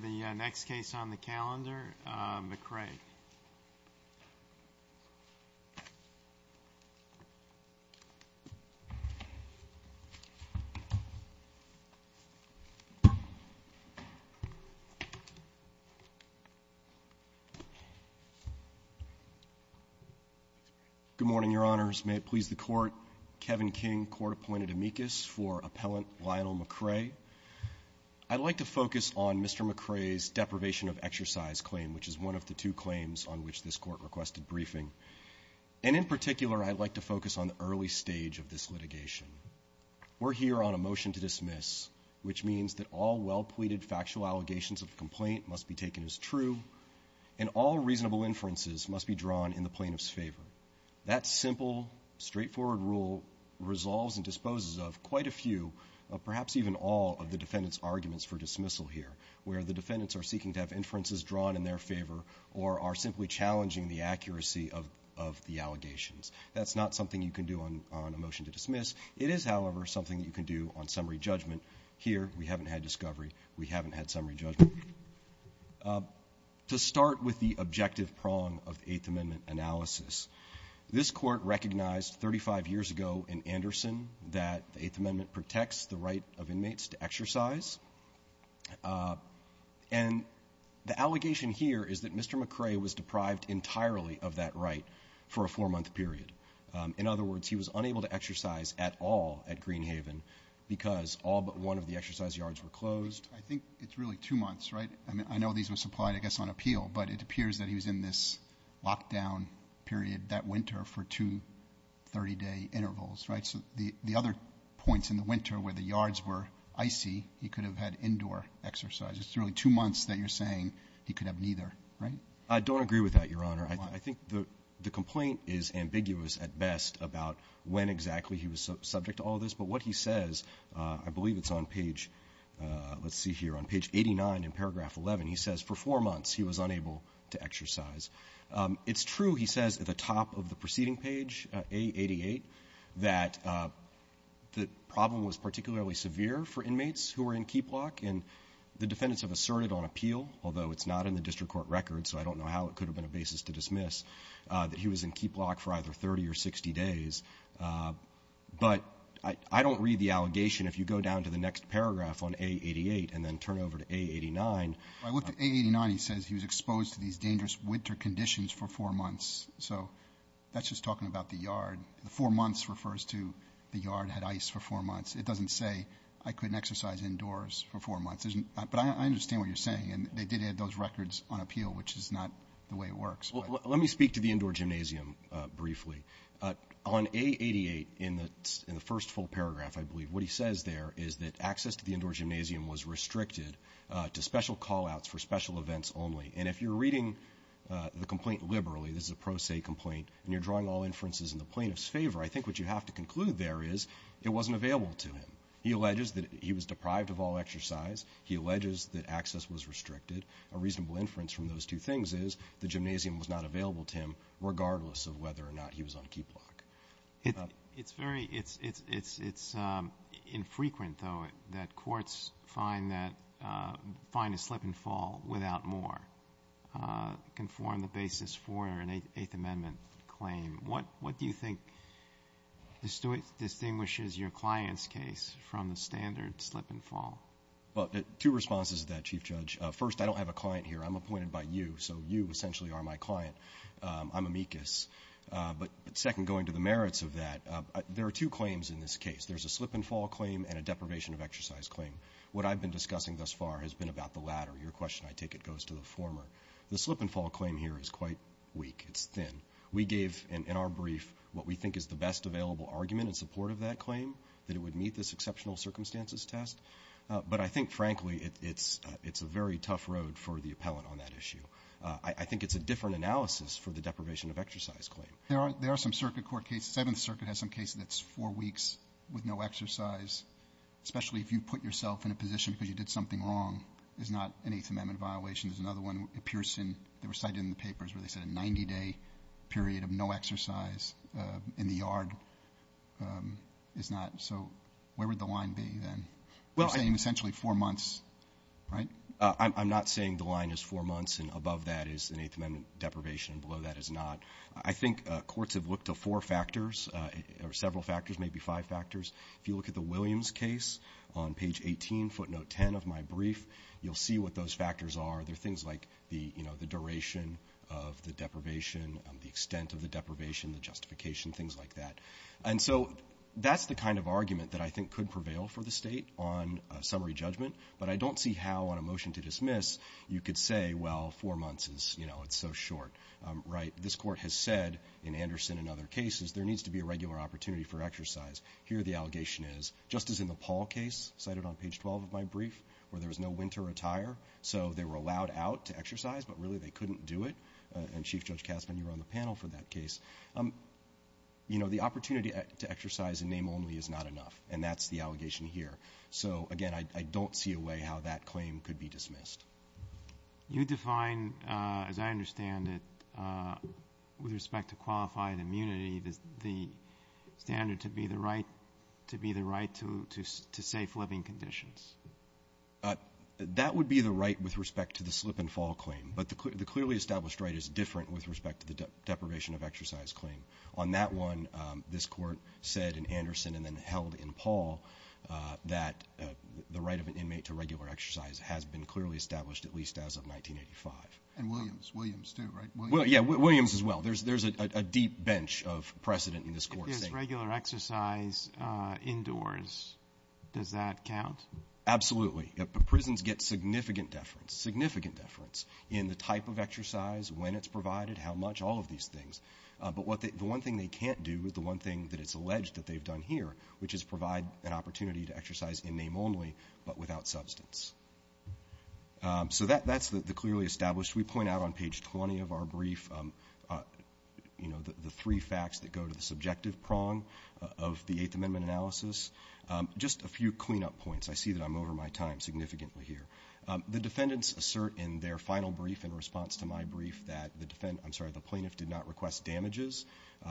for the next case on the calendar, McCray. Good morning, Your Honors. May it please the Court, Kevin King, Court-Appointed Amicus for Appellant Lionel McCray. I'd like to focus on Mr. McCray's deprivation of exercise claim, which is one of the two claims on which this Court requested briefing. And in particular, I'd like to focus on the early stage of this litigation. We're here on a motion to dismiss, which means that all well-pleaded factual allegations of the complaint must be taken as true, and all reasonable inferences must be drawn in the plaintiff's favor. That simple, straightforward rule resolves and disposes of quite a few, perhaps even all of the defendant's arguments for dismissal here, where the defendants are seeking to have inferences drawn in their favor or are simply challenging the accuracy of the allegations. That's not something you can do on a motion to dismiss. It is, however, something that you can do on summary judgment. Here, we haven't had discovery. We haven't had summary judgment. To start with the objective prong of the Eighth Amendment analysis, this Court recognized 35 years ago in Anderson that the Eighth Amendment protects the right of inmates to exercise. And the allegation here is that Mr. McCray was deprived entirely of that right for a four-month period. In other words, he was unable to exercise at all at Greenhaven because all but one of the exercise yards were closed. I think it's really two months, right? I mean, I know these were supplied, I guess, on appeal, but it appears that he was in this lockdown period that winter for two 30-day intervals, right? So the other points in the winter where the yards were icy, he could have had indoor exercise. It's really two months that you're saying he could have neither, right? I don't agree with that, Your Honor. I think the complaint is ambiguous at best about when exactly he was subject to all this, but what he says, I believe it's on page, let's see here, on page 89 in paragraph 11, he says, for four months he was unable to exercise. It's true, he says, at the top of the preceding page, A88, that the problem was particularly severe for inmates who were in keep lock, and the defendants have asserted on appeal, although it's not in the district court record, so I don't know how it could have been a basis to dismiss, that he was in keep lock for either 30 or 60 days. But I don't read the allegation if you go down to the next paragraph on A88 and then to A89, he says he was exposed to these dangerous winter conditions for four months. So that's just talking about the yard. Four months refers to the yard had ice for four months. It doesn't say I couldn't exercise indoors for four months. But I understand what you're saying, and they did have those records on appeal, which is not the way it works. Let me speak to the indoor gymnasium briefly. On A88, in the first full paragraph, I believe, what he says there is that access to the indoor gymnasium was restricted to special call outs for special events only, and if you're reading the complaint liberally, this is a pro se complaint, and you're drawing all inferences in the plaintiff's favor, I think what you have to conclude there is it wasn't available to him. He alleges that he was deprived of all exercise. He alleges that access was restricted. A reasonable inference from those two things is the gymnasium was not available to him regardless of whether or not he was on keep lock. It's infrequent, though, that courts find a slip and fall without more can form the basis for an Eighth Amendment claim. What do you think distinguishes your client's case from the standard slip and fall? Two responses to that, Chief Judge. First, I don't have a client here. I'm appointed by you, so you essentially are my client. I'm amicus. But second, going to the merits of that, there are two claims in this case. There's a slip and fall claim and a deprivation of exercise claim. What I've been discussing thus far has been about the latter. Your question, I take it, goes to the former. The slip and fall claim here is quite weak. It's thin. We gave, in our brief, what we think is the best available argument in support of that claim, that it would meet this exceptional circumstances test. But I think, frankly, it's a very tough road for the appellant on that issue. I think it's a different analysis for the deprivation of exercise claim. There are some circuit court cases. Seventh Circuit has some cases that's four weeks with no exercise, especially if you put yourself in a position because you did something wrong, is not an Eighth Amendment violation. There's another one in Pearson. They were cited in the papers where they said a 90-day period of no exercise in the yard is not. So where would the line be then? You're saying essentially four months, right? I'm not saying the line is four months and above that is an Eighth Amendment deprivation and below that is not. I think courts have looked to four factors or several factors, maybe five factors. If you look at the Williams case on page 18, footnote 10 of my brief, you'll see what those factors are. They're things like the duration of the deprivation, the extent of the deprivation, the justification, things like that. And so that's the kind of argument that I think could prevail for the state on a summary judgment. But I don't see how on a motion to dismiss, you could say, well, four months is, you know, it's so short, right? This court has said in Anderson and other cases, there needs to be a regular opportunity for exercise. Here the allegation is, just as in the Paul case cited on page 12 of my brief, where there was no winter attire, so they were allowed out to exercise, but really they couldn't do it. And Chief Judge Kasman, you were on the panel for that case. You know, the opportunity to exercise in name only is not enough. And that's the allegation here. So, again, I don't see a way how that claim could be dismissed. You define, as I understand it, with respect to qualified immunity, the standard to be the right to safe living conditions. That would be the right with respect to the slip and fall claim. But the clearly established right is different with respect to the deprivation of exercise claim. On that one, this court said in Anderson and then held in Paul, that the right of an inmate to regular exercise has been clearly established, at least as of 1985. And Williams. Williams too, right? Yeah, Williams as well. There's a deep bench of precedent in this court. If there's regular exercise indoors, does that count? Absolutely. Prisons get significant deference, significant deference, in the type of exercise, when it's provided, how much, all of these things. But the one thing they can't do, the one thing that it's alleged that they've done here, which is provide an opportunity to exercise in name only, but without substance. So that's the clearly established. We point out on page 20 of our brief, you know, the three facts that go to the subjective prong of the Eighth Amendment analysis. Just a few cleanup points. I see that I'm over my time significantly here. The defendants assert in their final brief, in response to my brief, that the defendant I'm sorry, the plaintiff did not request damages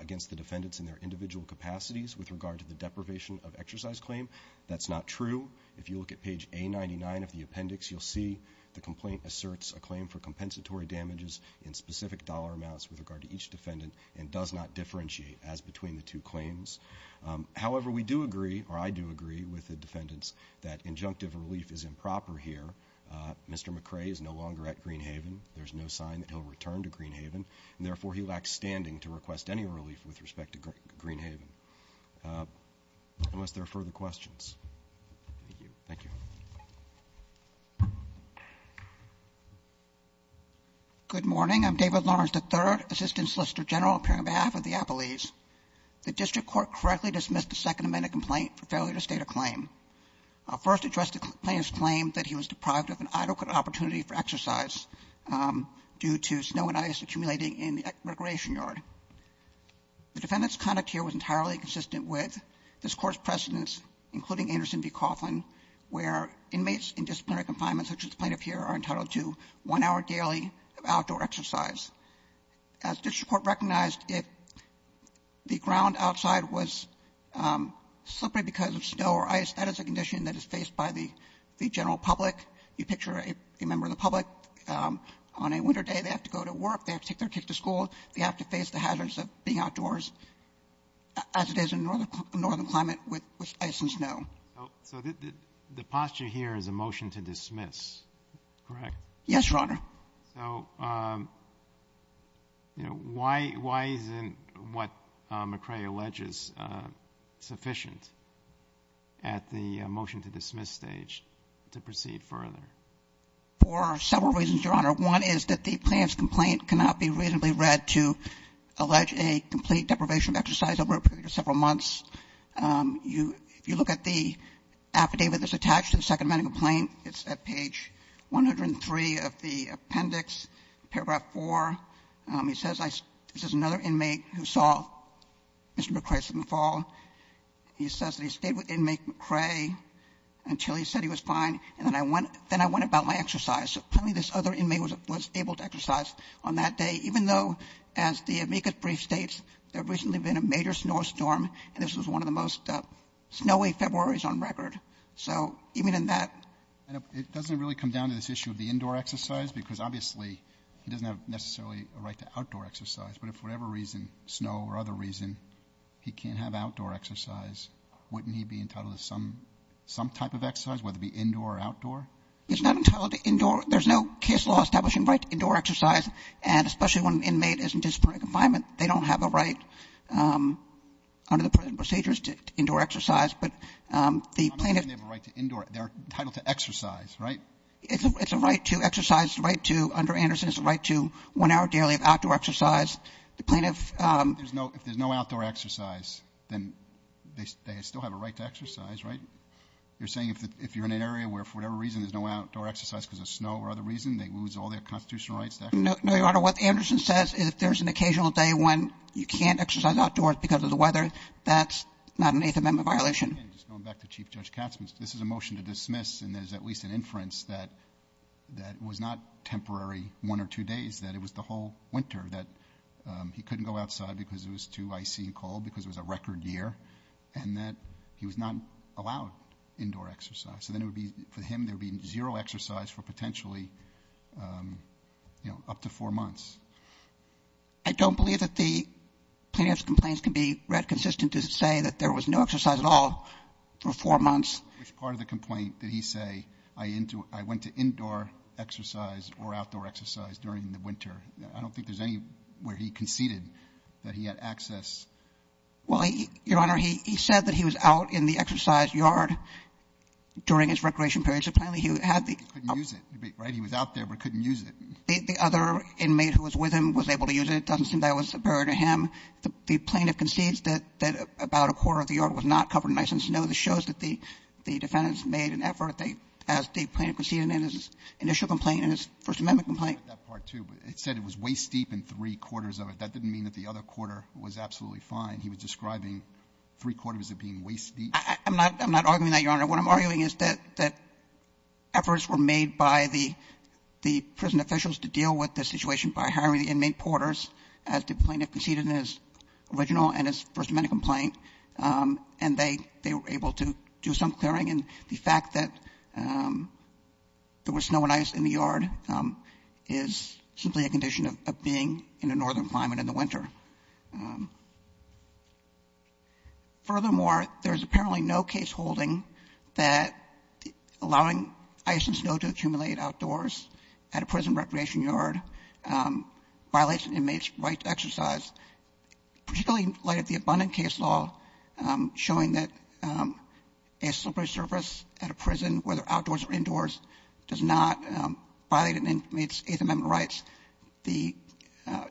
against the defendants in their individual capacities with regard to the deprivation of exercise claim. That's not true. If you look at page A99 of the appendix, you'll see the complaint asserts a claim for compensatory damages in specific dollar amounts with regard to each defendant and does not differentiate as between the two claims. However, we do agree or I do agree with the defendants that injunctive relief is improper here. Mr. McCrae is no longer at Greenhaven. There's no sign that he'll return to Greenhaven, and therefore, he lacks standing to request any relief with respect to Greenhaven unless there are further questions. Thank you. Good morning, I'm David Lawrence, the third assistant solicitor general appearing on behalf of the appellees. The district court correctly dismissed the Second Amendment complaint for failure to state a claim. I'll first address the plaintiff's claim that he was deprived of an adequate opportunity for exercise due to snow and ice accumulating in the recreation yard. The defendant's conduct here was entirely consistent with this Court's precedence, including Anderson v. Coughlin, where inmates in disciplinary confinement, such as the plaintiff here, are entitled to one hour daily of outdoor exercise. As district court recognized, if the ground outside was slippery because of snow or ice, that is a condition that is faced by the general public. You picture a member of the public on a winter day, they have to go to work, they have to take their kids to school, they have to face the hazards of being outdoors as it is in a northern climate with ice and snow. So the posture here is a motion to dismiss, correct? Yes, Your Honor. So, you know, why isn't what McCrae alleges sufficient at the motion to dismiss stage to proceed further? For several reasons, Your Honor. One is that the plaintiff's complaint cannot be reasonably read to allege a complete deprivation of exercise over a period of several months. You look at the affidavit that's attached to the second medical complaint, it's at page 103 of the appendix, paragraph 4. He says this is another inmate who saw Mr. McCrae in the fall. He says that he stayed with inmate McCrae until he said he was fine. And then I went about my exercise. So apparently this other inmate was able to exercise on that day, even though, as the amicus brief states, there had recently been a major snowstorm and this was one of the most snowy February's on record. So even in that... It doesn't really come down to this issue of the indoor exercise because obviously he doesn't have necessarily a right to outdoor exercise. But if for whatever reason, snow or other reason, he can't have outdoor exercise, wouldn't he be entitled to some type of exercise, whether it be indoor or outdoor? It's not entitled to indoor. There's no case law establishing right to indoor exercise. And especially when an inmate is in disciplinary confinement, they don't have a right under the procedures to indoor exercise. But the plaintiff... Not only do they have a right to indoor, they're entitled to exercise, right? It's a right to exercise, a right to... Under Anderson, it's a right to one hour daily of outdoor exercise. The plaintiff... If there's no outdoor exercise, then they still have a right to exercise, right? You're saying if you're in an area where for whatever reason there's no outdoor exercise because of snow or other reason, they lose all their constitutional rights to exercise? No, Your Honor. What Anderson says is if there's an occasional day when you can't exercise outdoors because of the weather, that's not an Eighth Amendment violation. Again, just going back to Chief Judge Katzman's, this is a motion to dismiss and there's at least an inference that that was not temporary one or two days, that it was the whole winter, that he couldn't go outside because it was too icy and cold because it was a record year and that he was not allowed indoor exercise. So then it would be, for him, there'd be zero exercise for potentially, you know, up to four months. I don't believe that the plaintiff's complaints can be read consistent to say that there was no exercise at all for four months. Which part of the complaint did he say, I went to indoor exercise or outdoor exercise during the winter? I don't think there's any where he conceded that he had access. Well, Your Honor, he said that he was out in the exercise yard during his recreation period, so apparently he had the other. He couldn't use it, right? He was out there, but couldn't use it. The other inmate who was with him was able to use it. It doesn't seem that was a barrier to him. The plaintiff concedes that about a quarter of the yard was not covered in ice and snow. This shows that the defendants made an effort, as the plaintiff conceded in his initial complaint, in his First Amendment complaint. That part, too, but it said it was waist-deep and three-quarters of it. That didn't mean that the other quarter was absolutely fine. He was describing three-quarters of it being waist-deep. I'm not arguing that, Your Honor. What I'm arguing is that efforts were made by the prison officials to deal with the situation by hiring the inmate porters, as the plaintiff conceded in his original and his First Amendment complaint, and they were able to do some clearing. And the fact that there was snow and ice in the yard is simply a condition of being in a northern climate in the winter. Furthermore, there is apparently no case holding that allowing ice and snow to accumulate outdoors at a prison recreation yard violates an inmate's right to exercise, particularly in light of the abundant case law showing that a separate service at a prison, whether outdoors or indoors, does not violate an inmate's Eighth Amendment rights, the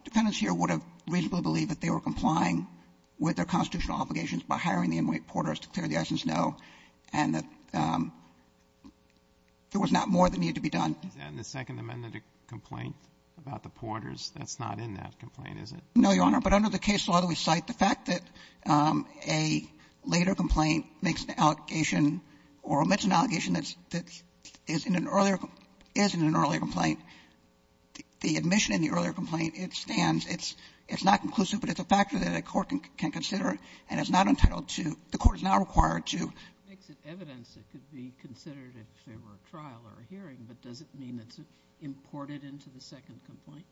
defendants here would have reasonably believed that they were complying with their constitutional obligations by hiring the inmate porters to clear the ice and snow and that there was not more that needed to be done. Is that in the Second Amendment complaint about the porters? No, Your Honor. But under the case law that we cite, the fact that a later complaint makes an allegation or omits an allegation that's — that is in an earlier — is in an earlier complaint, the admission in the earlier complaint, it stands. It's — it's not conclusive, but it's a factor that a court can consider, and it's not entitled to — the court is now required to — It makes it evidence that it could be considered if there were a trial or a hearing. But does it mean it's imported into the second complaint?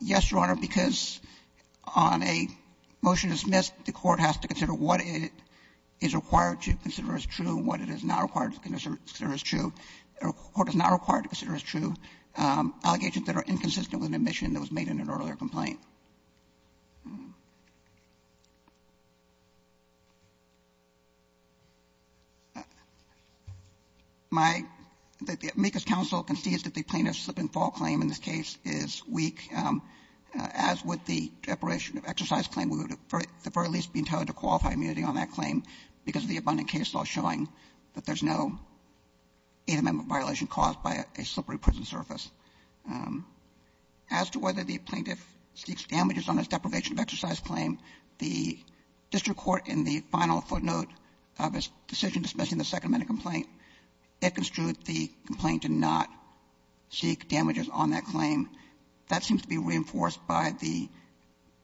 Yes, Your Honor, because on a motion dismissed, the court has to consider what it is required to consider as true and what it is not required to consider as true. The court is not required to consider as true allegations that are inconsistent with an admission that was made in an earlier complaint. My — the amicus counsel concedes that the plaintiff's slip-and-fall claim in this case is weak, as with the deprivation of exercise claim. We would at the very least be entitled to qualify immunity on that claim because of the abundant case law showing that there's no Eighth Amendment violation caused by a slippery prison surface. As to whether the plaintiff seeks damages on his deprivation of exercise claim, the district court in the final footnote of its decision dismissing the second complaint, it construed the complaint to not seek damages on that claim. That seems to be reinforced by the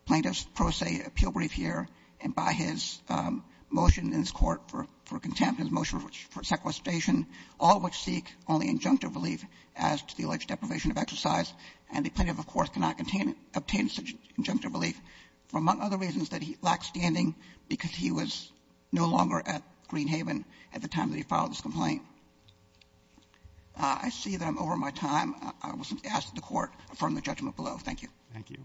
plaintiff's pro se appeal brief here and by his motion in this Court for contempt, his motion for sequestration, all which seek only injunctive relief as to the alleged deprivation of exercise. And the plaintiff, of course, cannot obtain such injunctive relief for, among other reasons, that he lacked standing because he was no longer at Greenhaven at the time that he filed this complaint. I see that I'm over my time. I will ask the Court to affirm the judgment below. Thank you. Roberts. Thank you.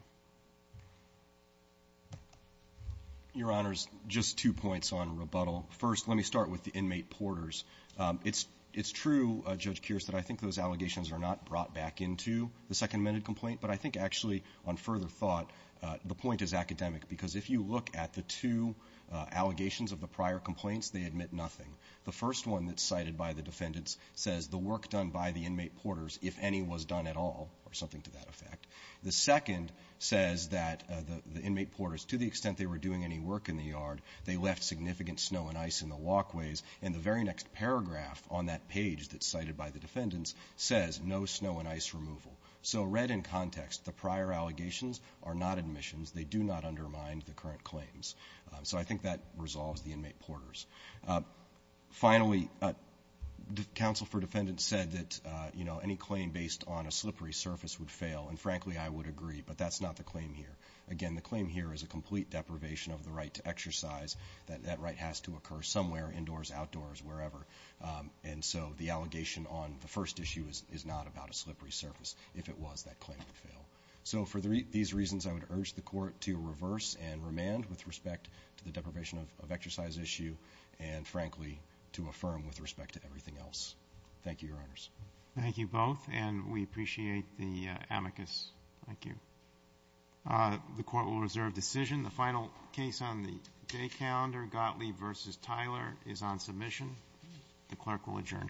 Your Honors, just two points on rebuttal. First, let me start with the inmate porters. It's true, Judge Kearse, that I think those allegations are not brought back into the Second Amendment complaint, but I think actually on further thought, the point is academic, because if you look at the two allegations of the prior complaints, they admit nothing. The first one that's cited by the defendants says the work done by the inmate porters, if any, was done at all, or something to that effect. The second says that the inmate porters, to the extent they were doing any work in the yard, they left significant snow and ice in the walkways. And the very next paragraph on that page that's cited by the defendants says no snow and ice removal. So read in context, the prior allegations are not admissions. They do not undermine the current claims. So I think that resolves the inmate porters. Finally, counsel for defendants said that, you know, any claim based on a slippery surface would fail, and frankly, I would agree, but that's not the claim here. Again, the claim here is a complete deprivation of the right to exercise. That right has to occur somewhere, indoors, outdoors, wherever. And so the allegation on the first issue is not about a slippery surface. If it was, that claim would fail. So for these reasons, I would urge the court to reverse and remand with respect to the deprivation of exercise issue, and frankly, to affirm with respect to everything else. Thank you, your honors. Thank you both, and we appreciate the amicus. Thank you. The court will reserve decision. The final case on the day calendar, Gottlieb versus Tyler, is on submission. The clerk will adjourn court.